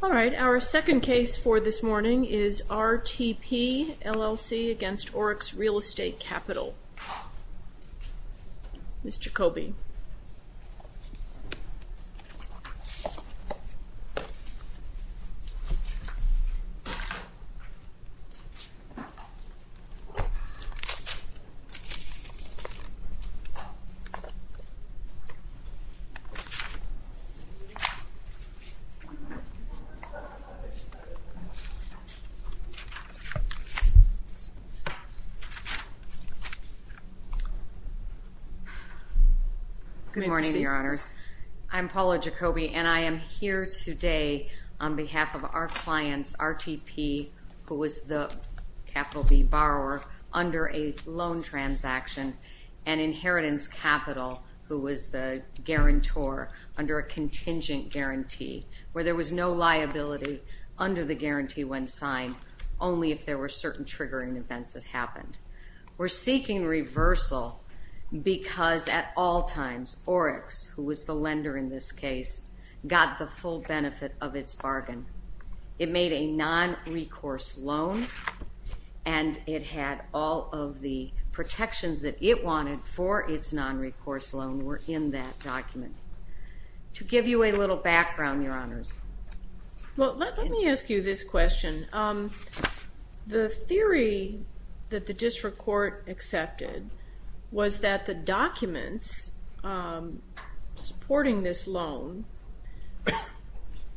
Alright, our TTP LLC v. Orix Real Estate Capital, Inc. Alright, our TTP LLC v. Orix Real Estate Capital, Inc. Good morning, Your Honors. I'm Paula Jacoby, and I am here today on behalf of our clients, RTP, who was the capital B borrower under a loan transaction, and Inheritance Capital, who was the guarantor under a contingent guarantee, where there was no liability under the guarantee when signed, only if there were certain triggering events that happened. We're seeking reversal because at all times, Orix, who was the lender in this case, got the full benefit of its bargain. It made a non-recourse loan, and it had all of the protections that it wanted for its non-recourse loan were in that document. To give you a little background, Your Honors. Well, let me ask you this question. The theory that the district court accepted was that the documents supporting this loan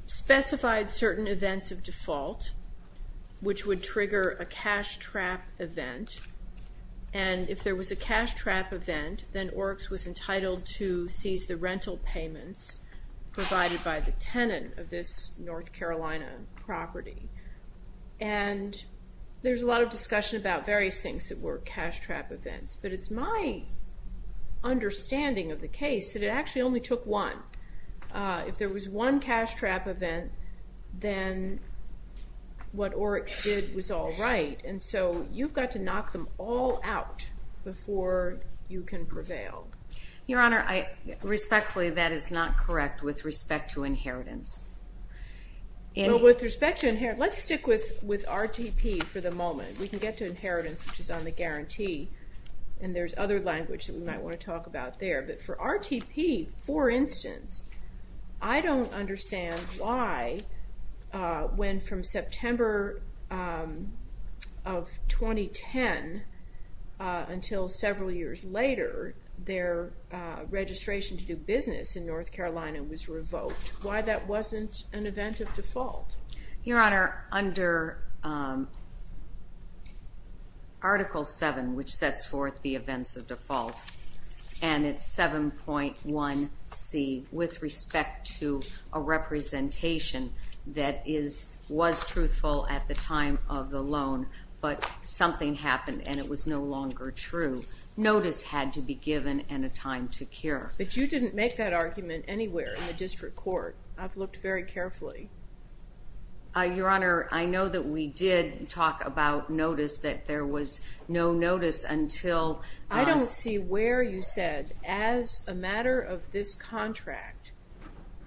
specified certain events of default, which would trigger a cash trap event, and if there was a cash trap event, then Orix was entitled to seize the rental payments provided by the tenant of this North Carolina property. And there's a lot of discussion about various things that were cash trap events, but it's my understanding of the case that it actually only took one. If there was one cash trap event, then what Orix did was all right, and so you've got to knock them all out before you can prevail. Your Honor, respectfully, that is not correct with respect to inheritance. With respect to inheritance, let's stick with with RTP for the inheritance, which is on the guarantee, and there's other language that we might want to talk about there, but for RTP, for instance, I don't understand why when from September of 2010 until several years later, their registration to do business in North Carolina was revoked. Why that wasn't an event of default? Your Honor, Article 7, which sets forth the events of default, and it's 7.1C, with respect to a representation that was truthful at the time of the loan, but something happened and it was no longer true. Notice had to be given and a time to cure. But you didn't make that argument anywhere in the district court. I've looked very carefully. Your Honor, I know that we did talk about notice that there was no notice until... I don't see where you said, as a matter of this contract,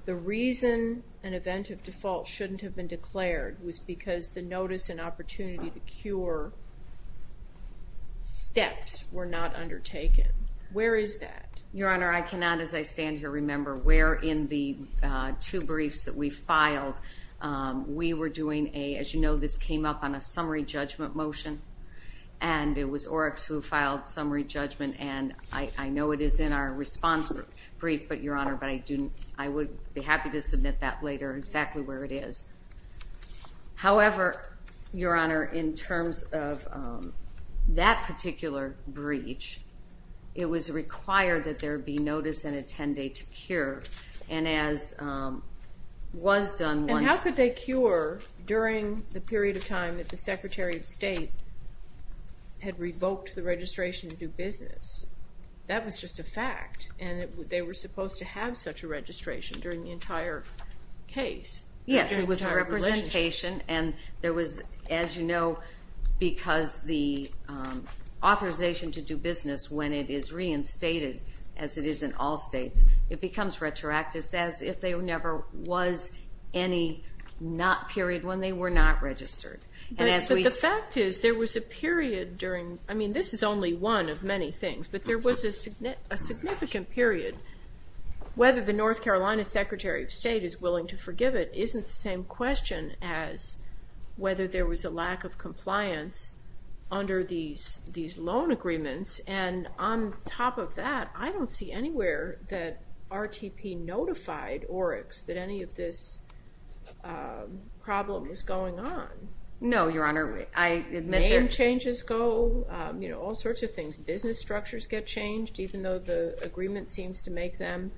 the reason an event of default shouldn't have been declared was because the notice and opportunity to cure steps were not undertaken. Where is that? Your Honor, I cannot, as I stand here, remember where in the two briefs that we filed we were doing a, as you know, this came up on a summary judgment motion, and it was Oryx who filed summary judgment, and I know it is in our response brief, but Your Honor, I would be happy to submit that later exactly where it is. However, Your Honor, in terms of that particular breach, it was required that there be notice and attendee to cure, and as was done... And how could they cure during the period of time that the Secretary of State had revoked the registration to do business? That was just a fact, and they were supposed to have such a registration during the entire case. Yes, it was a representation, and there was, as you know, because the authorization to do business when it is reinstated, as it is in all states, it becomes retroactive as if there never was any not period when they were not registered. But the fact is there was a period during, I mean this is only one of many things, but there was a significant period. Whether the North Carolina Secretary of State is willing to forgive it isn't the same question as whether there was a lack of compliance under these loan agreements, and on top of that, I don't see anywhere that RTP notified Oryx that any of this problem was going on. No, Your Honor, I admit... Name changes go, you know, all sorts of things. Business structures get changed even though the agreement seems to make them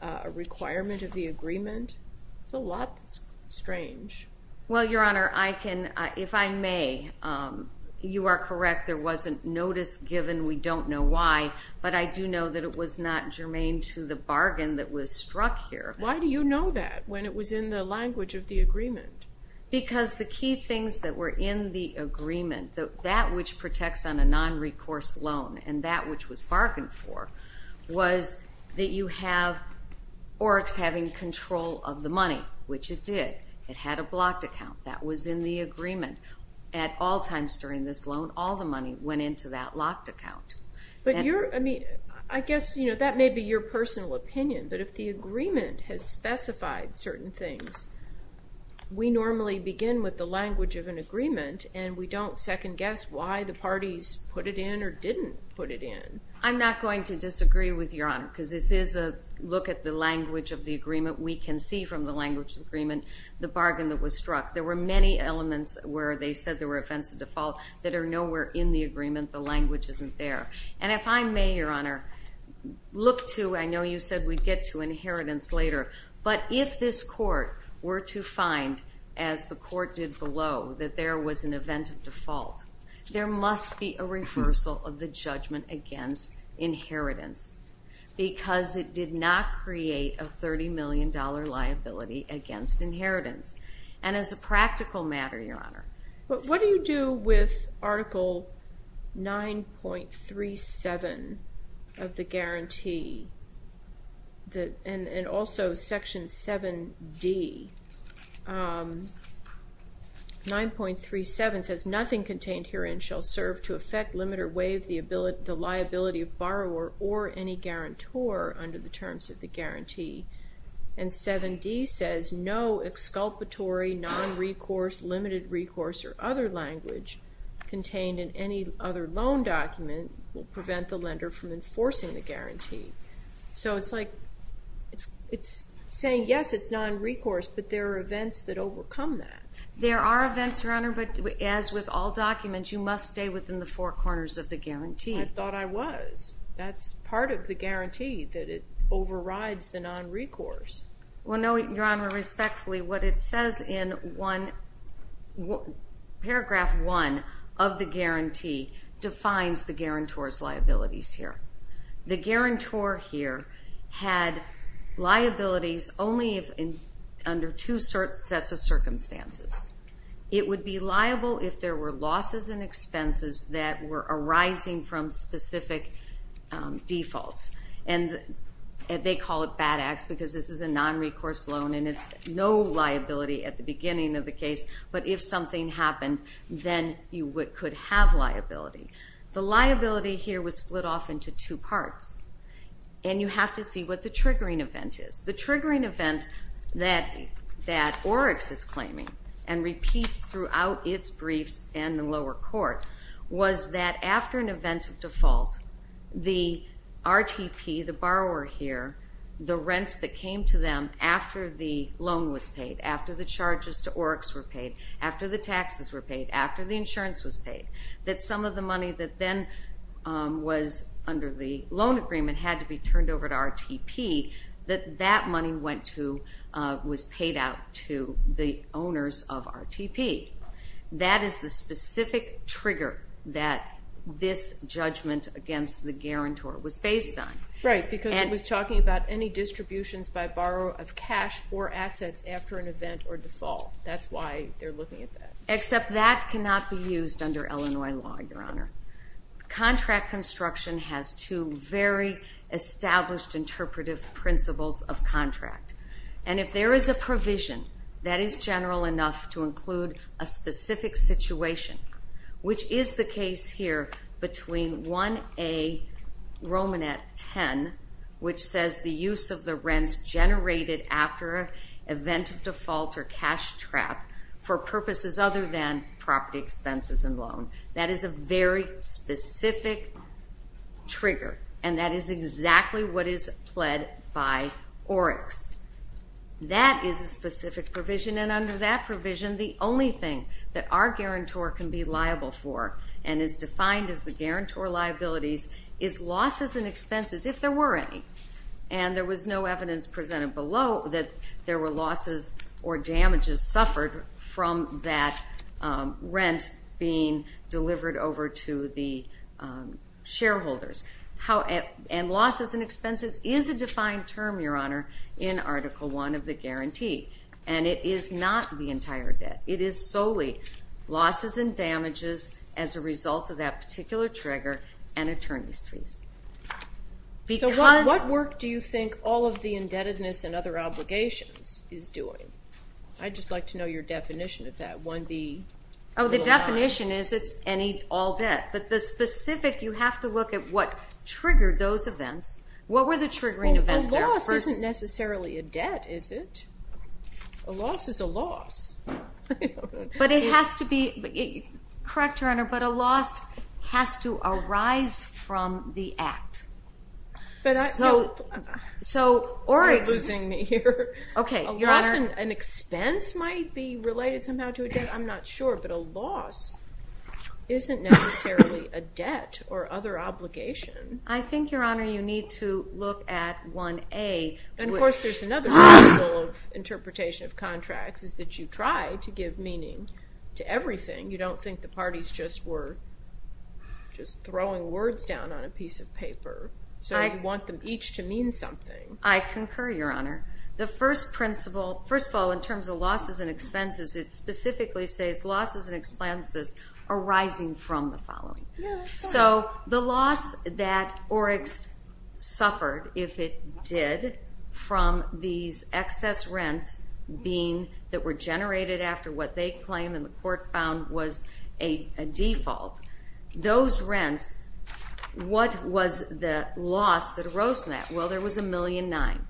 a requirement of the agreement. It's a lot strange. Well, Your Honor, I can, if I may, you are correct, there wasn't notice given. We don't know why, but I do know that it was not germane to the bargain that was struck here. Why do you know that when it was in the language of the agreement? Because the key things that were in the agreement, that which protects on a non-recourse loan and that which was bargained for, was that you have Oryx having control of the money, which it did. It had a blocked account. That was in the agreement. At all times during this loan, all the money went into that locked account. But you're, I mean, I guess, you know, that may be your personal opinion, but if the agreement has specified certain things, we normally begin with the language of an agreement and we don't second-guess why the parties put it in or didn't put it in. I'm not going to disagree with Your Honor. Look at the language of the agreement. We can see from the language of the agreement the bargain that was struck. There were many elements where they said there were events of default that are nowhere in the agreement. The language isn't there. And if I may, Your Honor, look to, I know you said we'd get to inheritance later, but if this court were to find, as the court did below, that there was an event of default, there must be a reversal of the judgment against inheritance because it did not create a 30 million dollar liability against inheritance. And as a practical matter, Your Honor. But what do you do with Article 9.37 of the guarantee that, and also Section 7D, 9.37 says, nothing contained herein shall serve to affect, limit or waive the ability, the borrower, or any guarantor under the terms of the guarantee. And 7D says no exculpatory, non-recourse, limited recourse, or other language contained in any other loan document will prevent the lender from enforcing the guarantee. So it's like, it's saying yes, it's non-recourse, but there are events that overcome that. There are events, Your Honor, but as with all documents, you must stay within the four corners of the guarantee. I thought I was. That's part of the guarantee, that it overrides the non-recourse. Well no, Your Honor, respectfully, what it says in one, paragraph one of the guarantee, defines the guarantor's liabilities here. The guarantor here had liabilities only under two sets of circumstances. It would be liable if there were losses and expenses that were arising from specific defaults. And they call it BADAX because this is a non-recourse loan and it's no liability at the beginning of the case, but if something happened then you could have liability. The liability here was split off into two parts, and you have to see what the triggering event is. The triggering event that that Oryx is claiming and repeats throughout its briefs and the lower court, was that after an event of default, the RTP, the borrower here, the rents that came to them after the loan was paid, after the charges to Oryx were paid, after the taxes were paid, after the insurance was paid, that some of the money that then was under the loan agreement had to be turned over to RTP, that that money went to, was paid out to the owners of RTP. That is the specific trigger that this judgment against the guarantor was based on. Right, because it was talking about any distributions by borrower of cash or assets after an event or default. That's why they're looking at that. Except that cannot be used under Illinois law, Your Honor. Contract construction has two very established interpretive principles of provision. That is general enough to include a specific situation, which is the case here between 1A Romanet 10, which says the use of the rents generated after an event of default or cash trap for purposes other than property expenses and loan. That is a very specific trigger, and that is exactly what is pled by Oryx. That is a specific provision, and under that provision the only thing that our guarantor can be liable for, and is defined as the guarantor liabilities, is losses and expenses, if there were any. And there was no evidence presented below that there were losses or damages suffered from that is a defined term, Your Honor, in Article 1 of the guarantee, and it is not the entire debt. It is solely losses and damages as a result of that particular trigger and attorneys fees. So what work do you think all of the indebtedness and other obligations is doing? I'd just like to know your definition of that. Oh, the definition is it's any all debt, but the What were the triggering events there? A loss isn't necessarily a debt, is it? A loss is a loss. But it has to be, correct Your Honor, but a loss has to arise from the act, so Oryx, okay, an expense might be related somehow to a debt, I'm not sure, but a loss isn't necessarily a debt or other obligation. I think, Your Honor, you need to look at 1A. And, of course, there's another principle of interpretation of contracts is that you try to give meaning to everything. You don't think the parties just were just throwing words down on a piece of paper, so you want them each to mean something. I concur, Your Honor. The first principle, first of all, in terms of losses and expenses, it specifically says losses and Oryx suffered, if it did, from these excess rents that were generated after what they claimed and the court found was a default. Those rents, what was the loss that arose from that? Well, there was a million nine.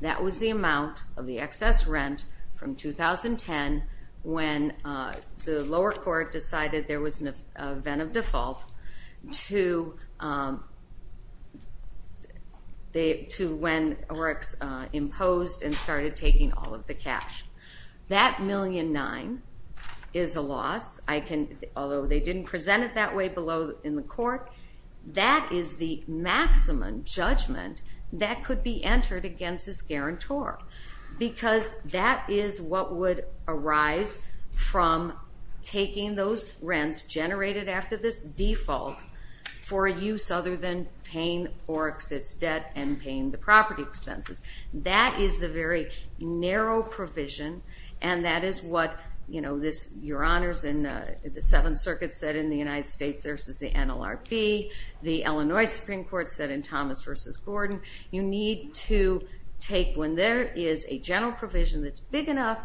That was the amount of the excess rent from 2010 when the lower court decided there was an event of the, to when Oryx imposed and started taking all of the cash. That million nine is a loss. I can, although they didn't present it that way below in the court, that is the maximum judgment that could be entered against this guarantor because that is what would arise from taking those rents generated after this Oryx's debt and paying the property expenses. That is the very narrow provision and that is what, you know, this, Your Honors, in the Seventh Circuit said in the United States versus the NLRB, the Illinois Supreme Court said in Thomas versus Gordon, you need to take when there is a general provision that's big enough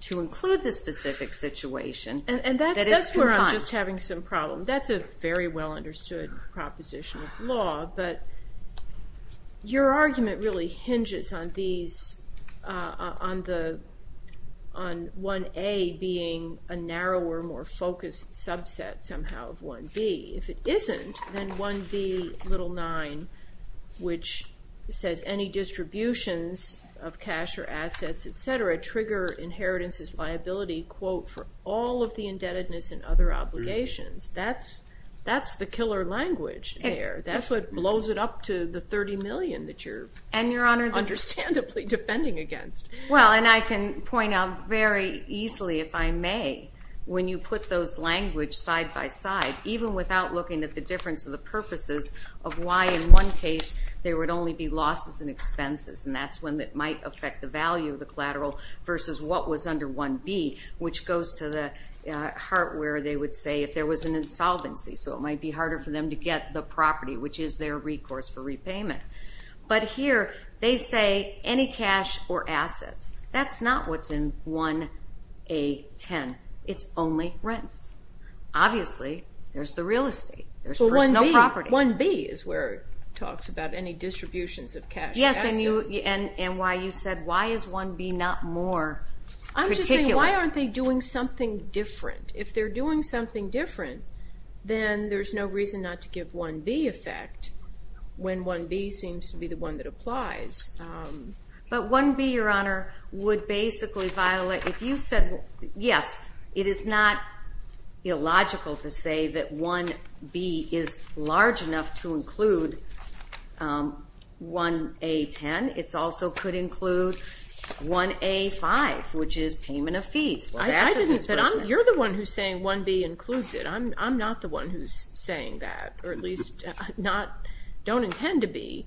to include this specific situation. And that's where I'm just having some problem. That's a very well understood proposition of law, but your argument really hinges on these, on the, on 1A being a narrower, more focused subset somehow of 1B. If it isn't, then 1B little nine, which says any distributions of cash or assets, etc., trigger inheritances liability, quote, for all of the indebtedness and other obligations. That's, that's the killer language there. That's what blows it up to the 30 million that you're, and Your Honor, understandably defending against. Well, and I can point out very easily, if I may, when you put those language side by side, even without looking at the difference of the purposes of why in one case there would only be losses and expenses, and that's when that might affect the value of the collateral versus what was under 1B, which goes to the heart where they would say if there was an insolvency, so it might be harder for them to get the property, which is their recourse for repayment. But here, they say any cash or assets. That's not what's in 1A.10. It's only rents. Obviously, there's the real estate, there's personal property. 1B is where it talks about any distributions of cash. Yes, and and why you said, why is 1B not more particular? I'm just saying, why aren't they doing something different? If they're doing something different, then there's no reason not to give 1B effect when 1B seems to be the one that applies. But 1B, Your Honor, would basically violate, if you said, yes, it is not illogical to say that 1B is large enough to include 1A.10. It also could include 1A.5, which is payment of fees. You're the one who's saying 1B includes it. I'm not the one who's saying that, or at least don't intend to be.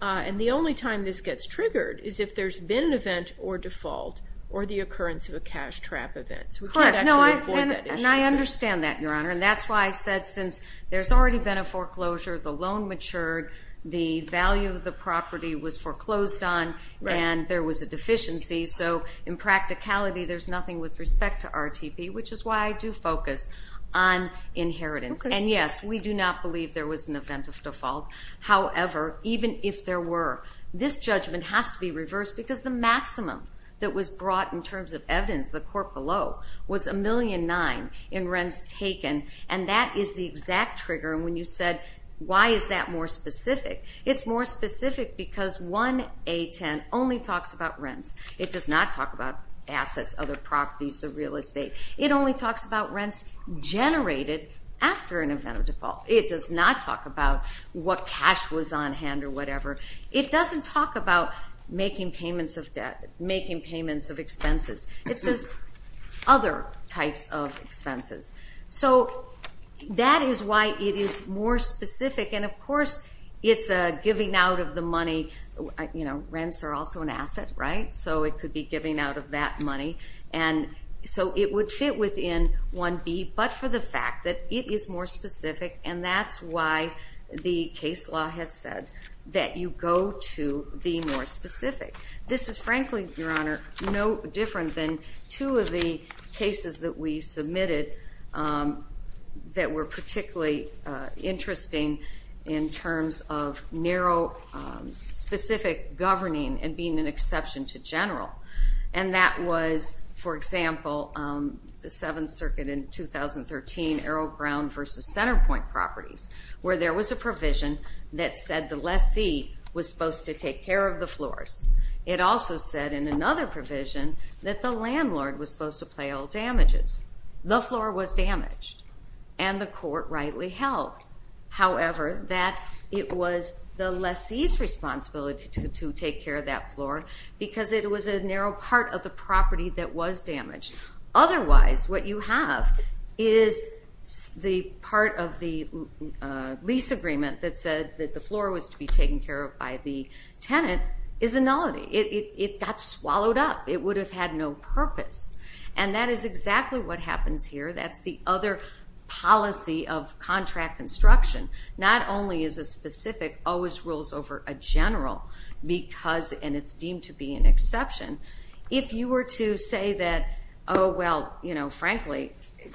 And the only time this gets triggered is if there's been an event or default or the occurrence of a cash trap events. We can't actually avoid that issue. I understand that, Your Honor, and that's why I said since there's already been a foreclosure, the loan matured, the value of the property was foreclosed on, and there was a deficiency. So in practicality, there's nothing with respect to RTP, which is why I do focus on inheritance. And yes, we do not believe there was an event of default. However, even if there were, this judgment has to be reversed because the low was $1,000,009 in rents taken, and that is the exact trigger. And when you said, why is that more specific? It's more specific because 1A.10 only talks about rents. It does not talk about assets, other properties of real estate. It only talks about rents generated after an event of default. It does not talk about what cash was on hand or whatever. It doesn't talk about making payments of expenses. It says other types of expenses. So that is why it is more specific, and of course it's a giving out of the money. You know, rents are also an asset, right? So it could be giving out of that money, and so it would fit within 1B, but for the fact that it is more specific, and that's why the case law has said that you go to the more specific. This is frankly, Your Honor, no different than two of the cases that we submitted that were particularly interesting in terms of narrow, specific governing and being an exception to general, and that was, for example, the Seventh Circuit in 2013, Arrow-Brown versus Centerpoint Properties, where there was a provision that said the lessee was supposed to take care of the floors. It also said in another provision that the landlord was supposed to pay all damages. The floor was damaged, and the court rightly held, however, that it was the lessee's responsibility to take care of that floor because it was a narrow part of the property that was damaged. Otherwise, what you have is the part of the lease agreement that said that the floor was to be taken care of by the tenant is a nullity. It got swallowed up. It would have had no purpose, and that is exactly what happens here. That's the other policy of contract construction. Not only is a specific always rules over a general because, and it's deemed to be an exception, if you were to say that, oh well, you know, frankly,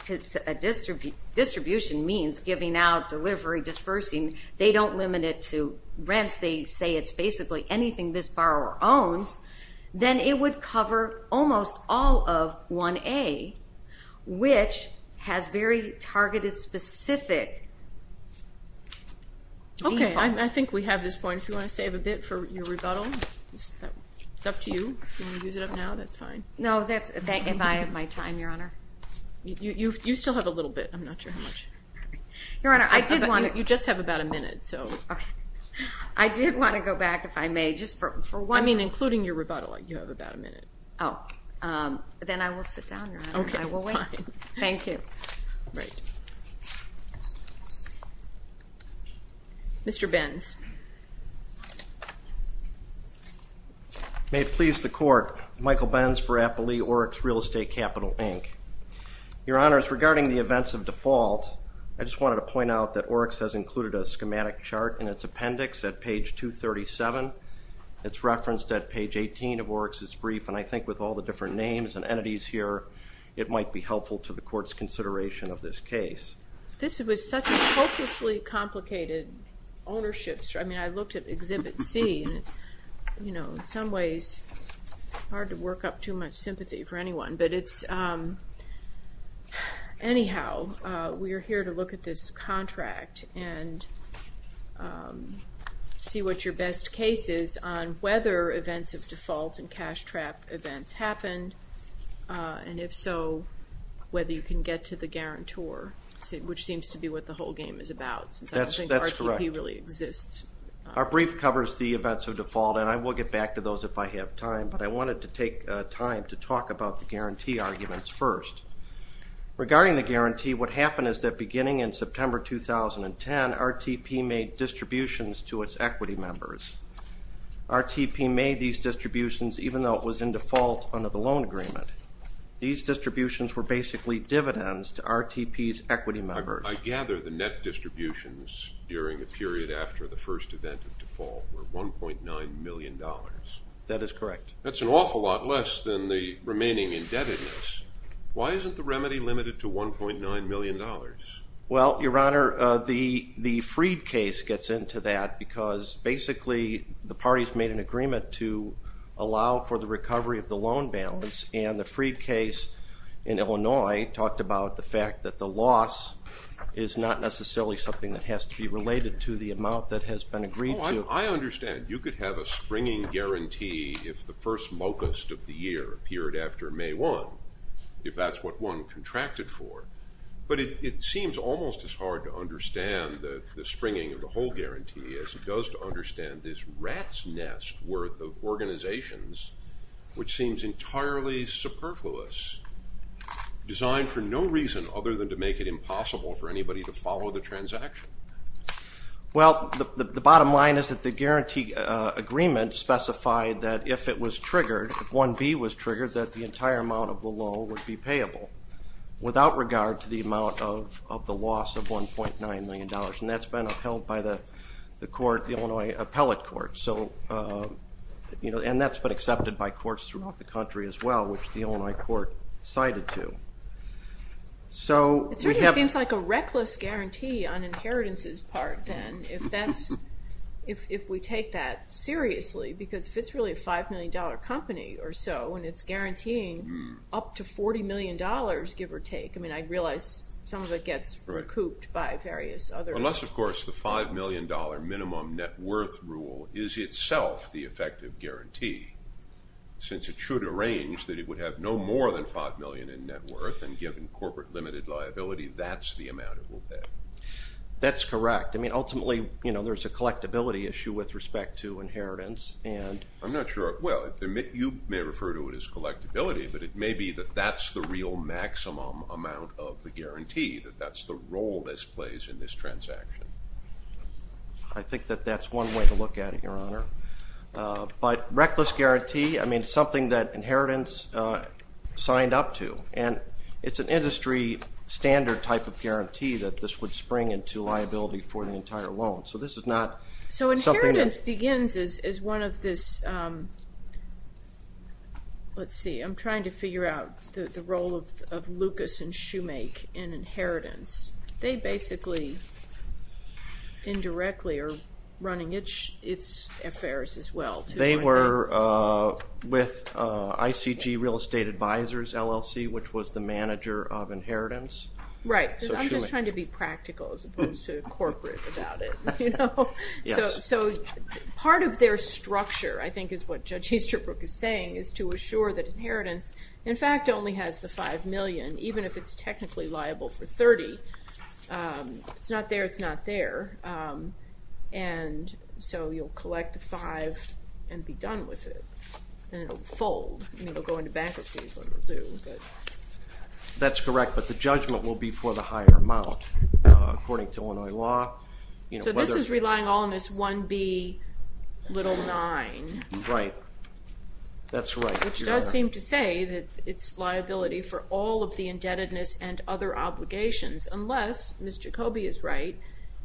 distribution means giving out, delivery, dispersing. They don't limit it to rents. They say it's basically anything this borrower owns. Then it would cover almost all of 1A, which has very targeted, specific defaults. Okay, I think we have this point. If you want to save a bit for your time, Your Honor. You still have a little bit. I'm not sure how much. Your Honor, I did want to. You just have about a minute, so. I did want to go back, if I may, just for one. I mean, including your rebuttal. You have about a minute. Oh, then I will sit down, Your Honor, and I will wait. Okay, fine. Thank you. Mr. Benz. May it please the court, Michael Benz for Appley Oryx Real Estate Capital, Inc. Your Honors, regarding the events of default, I just wanted to point out that Oryx has included a schematic chart in its appendix at page 237. It's referenced at page 18 of Oryx's brief, and I think with all the different names and entities here, it might be helpful to the court's consideration of this case. This was such a hopelessly complicated ownership. I mean, I looked at Exhibit C, you know, in some ways, hard to work up too much sympathy for anyone, but it's, anyhow, we are here to look at this contract and see what your best case is on whether events of default and cash trap events happened, and if so, whether you can get to the guarantor, which seems to be what the whole game is about. That's correct. I don't think RTP really exists. Our brief covers the events of default, and I will get back to those if I have time, but I wanted to take time to talk about the guarantee arguments first. Regarding the guarantee, what happened is that beginning in September 2010, RTP made distributions to its equity members. RTP made these distributions even though it was in default under the loan agreement. These distributions were basically dividends to RTP's equity members. I gather the net distributions during the period after the first event of default were 1.9 million dollars. That is correct. That's an awful lot less than the remaining indebtedness. Why isn't the remedy limited to 1.9 million dollars? Well, Your Honor, the Freed case gets into that because basically the parties made an agreement to allow for the recovery of the loan balance, and the Freed case in Illinois talked about the fact that the loss is not necessarily something that has to be related to the amount that has been agreed to. I understand. You could have a springing guarantee if the first locust of the year appeared after May 1, if that's what one contracted for, but it seems almost as hard to understand the springing of the whole guarantee as it does to understand this rat's nest worth of organizations, which seems entirely superfluous, designed for no reason other than to make it impossible for anybody to follow the transaction. Well, the bottom line is that the guarantee agreement specified that if it was triggered, if 1B was triggered, that the entire amount of the loan would be payable without regard to the amount of the loss of 1.9 million dollars, and that's been upheld by the court, the Illinois Appellate Court, so you know, and that's been accepted by courts throughout the country as well, which the Illinois court cited to. It sort of seems like a reckless guarantee on inheritance's part, then, if we take that seriously, because if it's really a five million dollar company or so, and it's guaranteeing up to 40 million dollars, give or take, I mean, I realize some of it gets recouped by various other. Unless, of course, the five million dollar minimum net worth rule is itself the effective guarantee, since it should arrange that it would have no more than five million in net worth, and given corporate limited liability, that's the amount it will pay. That's correct. I mean, ultimately, you know, there's a collectability issue with respect to inheritance, and I'm not sure, well, you may refer to it as collectability, but it may be that that's the real maximum amount of the guarantee, that that's the role this plays in this transaction. I think that that's one way to look at it, Your Honor, but reckless guarantee, I mean, something that inheritance signed up to, and it's an industry standard type of guarantee that this would spring into liability for the entire loan, so this is not... So inheritance begins as one of this, let's see, I'm trying to figure out the role of Lucas and Shoemake in inheritance. They basically, indirectly, are running its affairs as well. They were with ICG Real Estate Advisors, LLC, which was the manager of inheritance. Right, I'm just trying to be practical as opposed to corporate about it. So part of their structure, I think is what Judge Easterbrook is saying, is to assure that inheritance, in fact, only has the five million, even if it's technically liable for 30, it's not there, it's not there, and so you'll collect the five and be done with it, and it'll fold, it'll go into bankruptcy. That's correct, but the judgment will be for the higher amount, according to Illinois law. So this is relying all on this 1B9. Right, that's right. Which does seem to say that it's liability for all of the indebtedness and other obligations, unless Ms. Jacoby is right,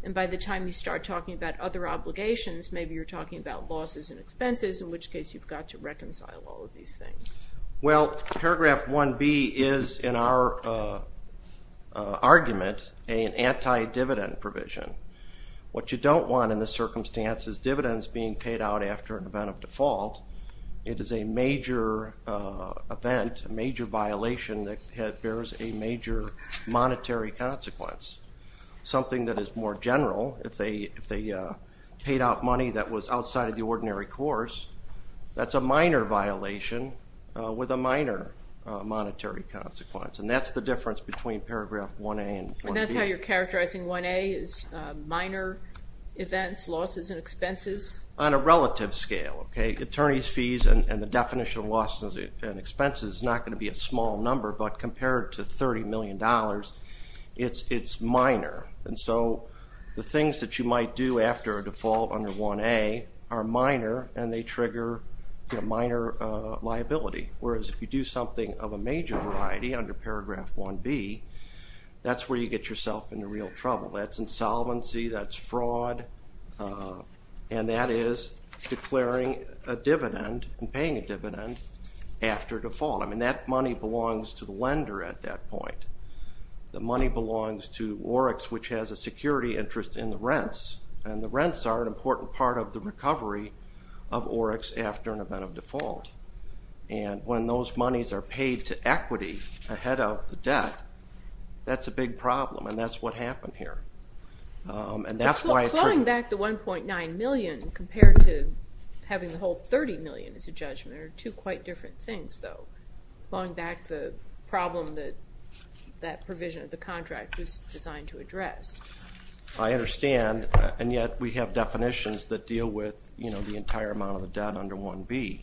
and by the time you start talking about other obligations, maybe you're talking about losses and expenses, in which case you've got to reconcile all of these things. Well, paragraph 1B is, in our argument, an anti-dividend provision. What you don't want in this circumstance is dividends being paid out after an event of default. It is a major event, a major violation that bears a major monetary consequence. Something that is more general, if they paid out money that was outside of the ordinary course, that's a minor violation with a minor monetary consequence, and that's the difference between paragraph 1A and 1B. And that's how you're characterizing 1A, is minor events, losses, and expenses? On a relative scale, okay, attorney's fees and the definition of losses and expenses is not going to be a small number, but compared to 30 million dollars, it's minor, and so the things that you might do after a default under 1A are minor and they trigger a minor liability, whereas if you do something of a major variety under paragraph 1B, that's where you get yourself into real trouble. That's insolvency, that's fraud, and that is declaring a dividend and paying a dividend after default. I mean, that money belongs to the lender at that point. The money belongs to Oryx, which has a security interest in the rents, and the rents are an important part of the recovery of Oryx after an event of default, and when those monies are paid to equity ahead of the debt, that's a big problem, and that's what happened here. And that's why... Clawing back the 1.9 million compared to having the whole 30 million as a judgment are two quite different things, though. Clawing back the problem that that provision of the contract was designed to address. I understand, and yet we have definitions that deal with, you know, the entire amount of the debt under 1B.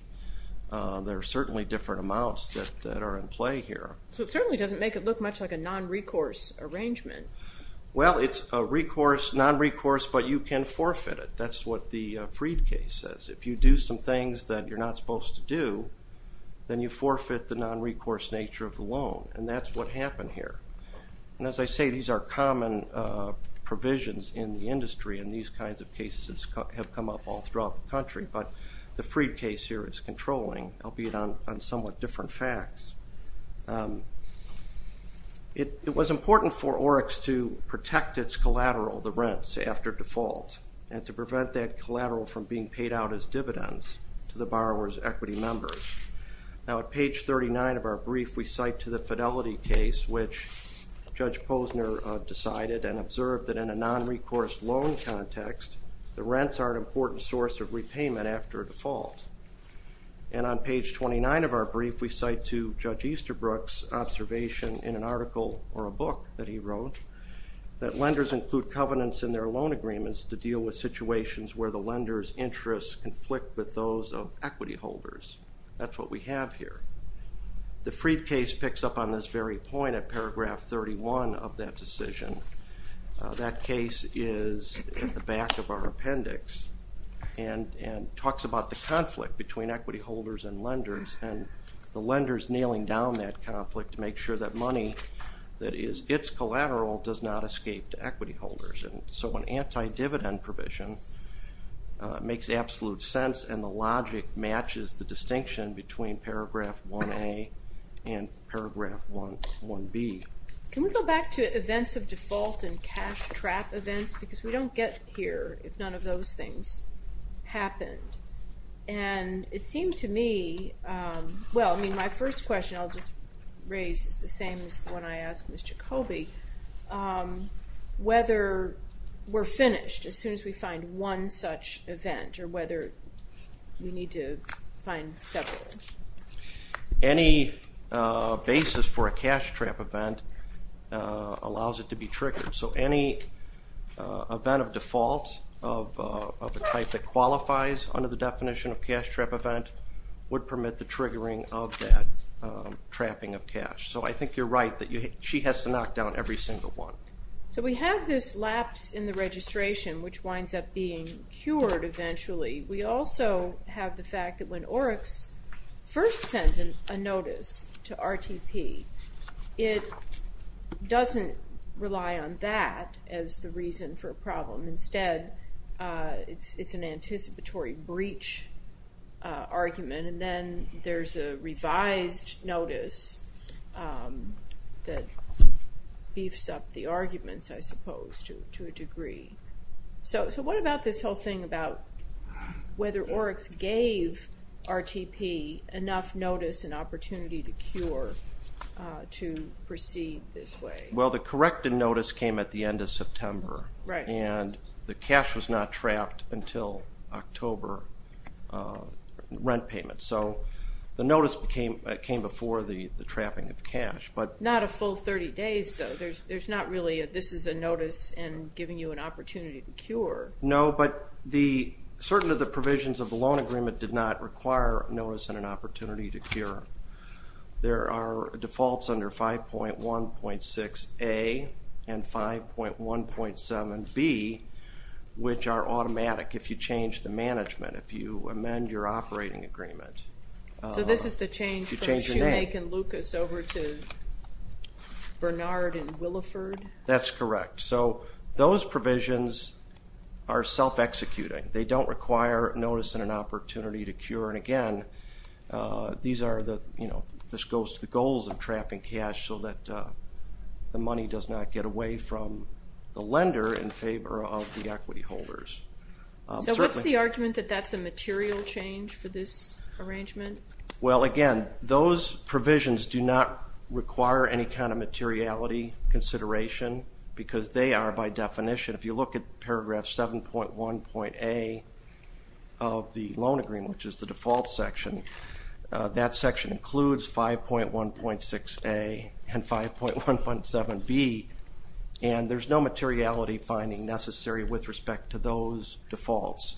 There are certainly different amounts that are in play here. So it certainly doesn't make it look much like a non-recourse arrangement. Well, it's a non-recourse, but you can forfeit it. That's what the Freed case says. If you do some things that you're not supposed to do, then you forfeit the non-recourse nature of the loan, and that's what happened here. And as I say, these are common provisions in the industry, and these kinds of cases have come up all throughout the country, but the Freed case here is controlling, albeit on somewhat different facts. It was important for Oryx to protect its collateral, the rents, after default, and to prevent that collateral from being paid out as dividends to the borrower's equity members. Now at page 39 of our brief, we cite to the Fidelity case, which Judge Posner decided and observed that in a non-recourse loan context, the rents are an important source of repayment after default. And on page 29 of our brief, we cite to Judge Easterbrook's observation in an article or a book that he wrote, that lenders include covenants in their loan agreements to deal with situations where the lender's interests conflict with those of equity holders. That's what we have here. The Freed case picks up on this very point at paragraph 31 of that decision. That case is at the back of our appendix and talks about the conflict between equity holders and lenders, and the lenders nailing down that conflict to make sure that money that is its collateral does not escape to equity holders. And so an anti-dividend provision makes absolute sense and the logic matches the distinction between paragraph 1A and paragraph 1B. Can we go back to events of default and cash trap events, because we don't get here if none of those things happened. And it seemed to me, well I mean my first question I'll just raise is the same as the one I asked Ms. Jacoby, whether we're finished as soon as we find one such event or whether we need to find several. Any basis for a cash trap event allows it to be triggered. So any event of default of the type that qualifies under the definition of cash trap event would permit the triggering of that trapping of cash. So I think you're right that she has to knock down every single one. So we have this lapse in the registration which winds up being cured eventually. We also have the fact that when Oryx first sends a notice to RTP, it doesn't rely on that as the reason for a problem. Instead it's an anticipatory breach argument and then there's a revised notice that beefs up the arguments I suppose to a degree. So what about this whole thing about whether Oryx gave RTP enough notice and opportunity to cure to proceed this way? Well the corrected notice came at the end of September and the cash was not trapped until October rent payment. So the notice came before the this is a notice and giving you an opportunity to cure. No, but the certain of the provisions of the loan agreement did not require notice and an opportunity to cure. There are defaults under 5.1.6A and 5.1.7B which are automatic if you change the management, if you amend your operating agreement. So this is the change from Shoemake and Lucas over to Bernard and that's correct. So those provisions are self-executing. They don't require notice and an opportunity to cure and again these are the you know this goes to the goals of trapping cash so that the money does not get away from the lender in favor of the equity holders. So what's the argument that that's a material change for this arrangement? Well again those provisions do not require any kind of materiality consideration because they are by definition, if you look at paragraph 7.1.A of the loan agreement, which is the default section, that section includes 5.1.6A and 5.1.7B and there's no materiality finding necessary with respect to those defaults.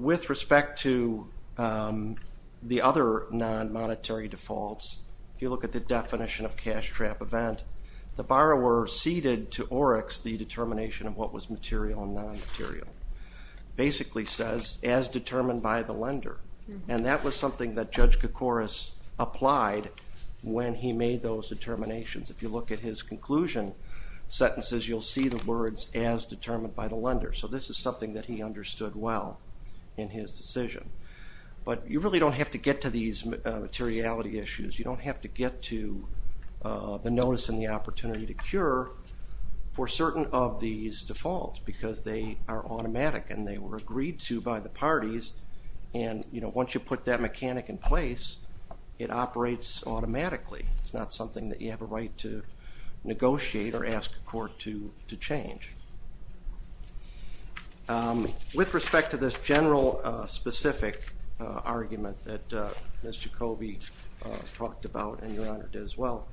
With respect to the other non-monetary defaults, if you look at the definition of cash trap event, the borrower ceded to Oryx the determination of what was material and non-material. Basically says as determined by the lender and that was something that Judge Koukouras applied when he made those determinations. If you look at his conclusion sentences you'll see the words as determined by the lender so this is something that he understood well in his decision. But you really don't have to get to these materiality issues, you don't have to get to the notice and the opportunity to cure for certain of these defaults because they are automatic and they were agreed to by the parties and you know once you put that mechanic in place it operates automatically. It's not something that you have a right to negotiate or ask a court to change. With respect to this general specific argument that Ms. Jacobi talked about and your Honor did as well,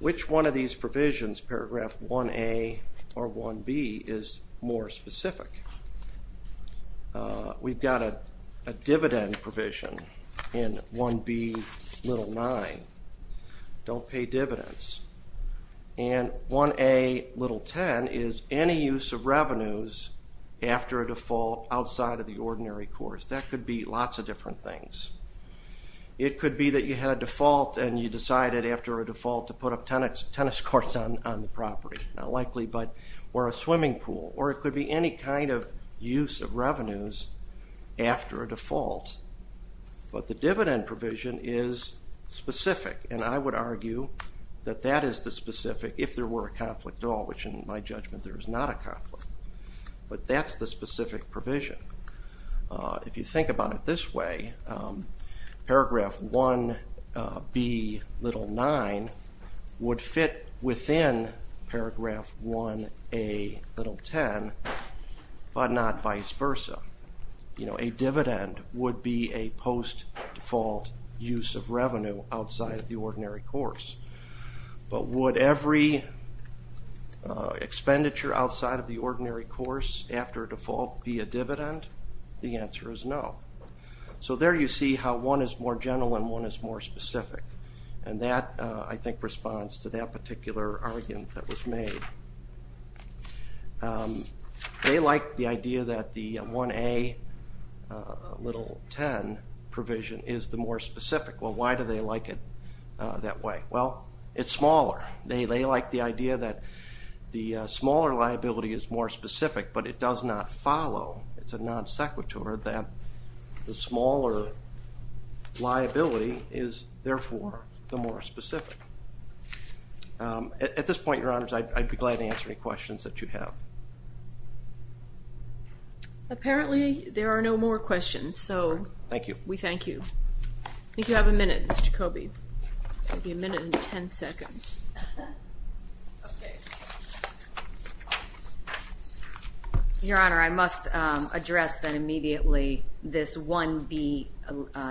which one of these provisions, paragraph 1a or 1b is more specific. We've got a dividend provision in 1b little 9, don't pay dividends and 1a little 10 is any use of revenues after a default outside of the ordinary course. That could be lots of different things. It could be that you had a default and you decided after a default to put a tennis tennis course on the property, not likely, but or a swimming pool or it could be any kind of use of revenues after a default. But the dividend provision is specific and I would argue that that is the specific if there were a conflict at all, which in my judgment there is not a conflict, but that's the specific provision. If you 1b little 9 would fit within paragraph 1a little 10 but not vice versa, you know, a dividend would be a post default use of revenue outside of the ordinary course. But would every expenditure outside of the ordinary course after a default be a dividend? The answer is no. So there you see how one is more general and one is more specific and that I think responds to that particular argument that was made. They like the idea that the 1a little 10 provision is the more specific. Well why do they like it that way? Well it's smaller. They like the idea that the smaller liability is more specific but it does not follow, it's a non liability is therefore the more specific. At this point, your honors, I'd be glad to answer any questions that you have. Apparently there are no more questions, so thank you. We thank you. I think you have a minute, Mr. Jacoby. You have a minute and ten seconds. Your honor, I must address that immediately, this 1b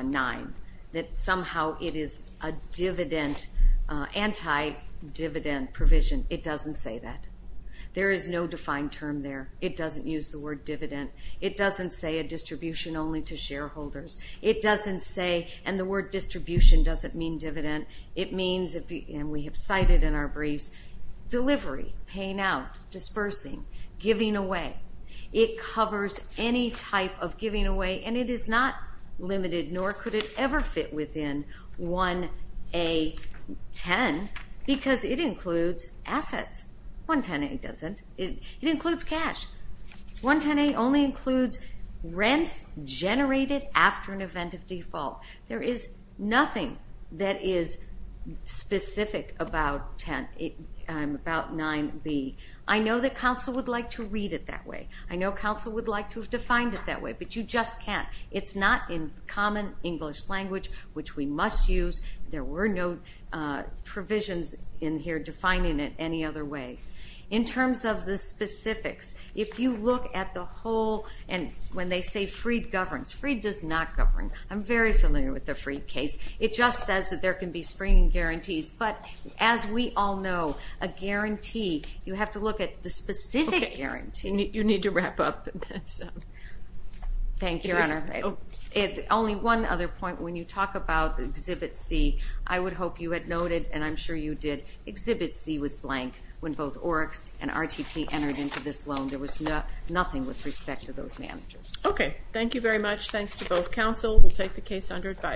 9, that somehow it is a dividend, anti-dividend provision. It doesn't say that. There is no defined term there. It doesn't use the word dividend. It doesn't say a distribution only to shareholders. It doesn't say, and the word distribution doesn't mean dividend, it means, and we have cited in our briefs, delivery, paying out, dispersing, giving away. It covers any type of giving away and it is not limited nor could it ever fit within 1a 10 because it includes assets. 110a doesn't. It includes cash. 110a only includes rents generated after an event of default. There is nothing that is specific about 9b. I know that counsel would like to read it that way. I know counsel would like to have defined it that way, but you just can't. It's not in common English language, which we must use. There were no provisions in here defining it any other way. In terms of the specifics, if you look at the whole, and when they say Freed governs, Freed does not govern. I'm very familiar with the Freed case. It just says that there can be springing guarantees, but as we all know, a guarantee, you have to look at the need to wrap up. Thank you, Your Honor. Only one other point. When you talk about Exhibit C, I would hope you had noted, and I'm sure you did, Exhibit C was blank when both Oryx and RTP entered into this loan. There was nothing with respect to those managers. Okay, thank you very much. Thanks to both counsel. We'll take the case under advice.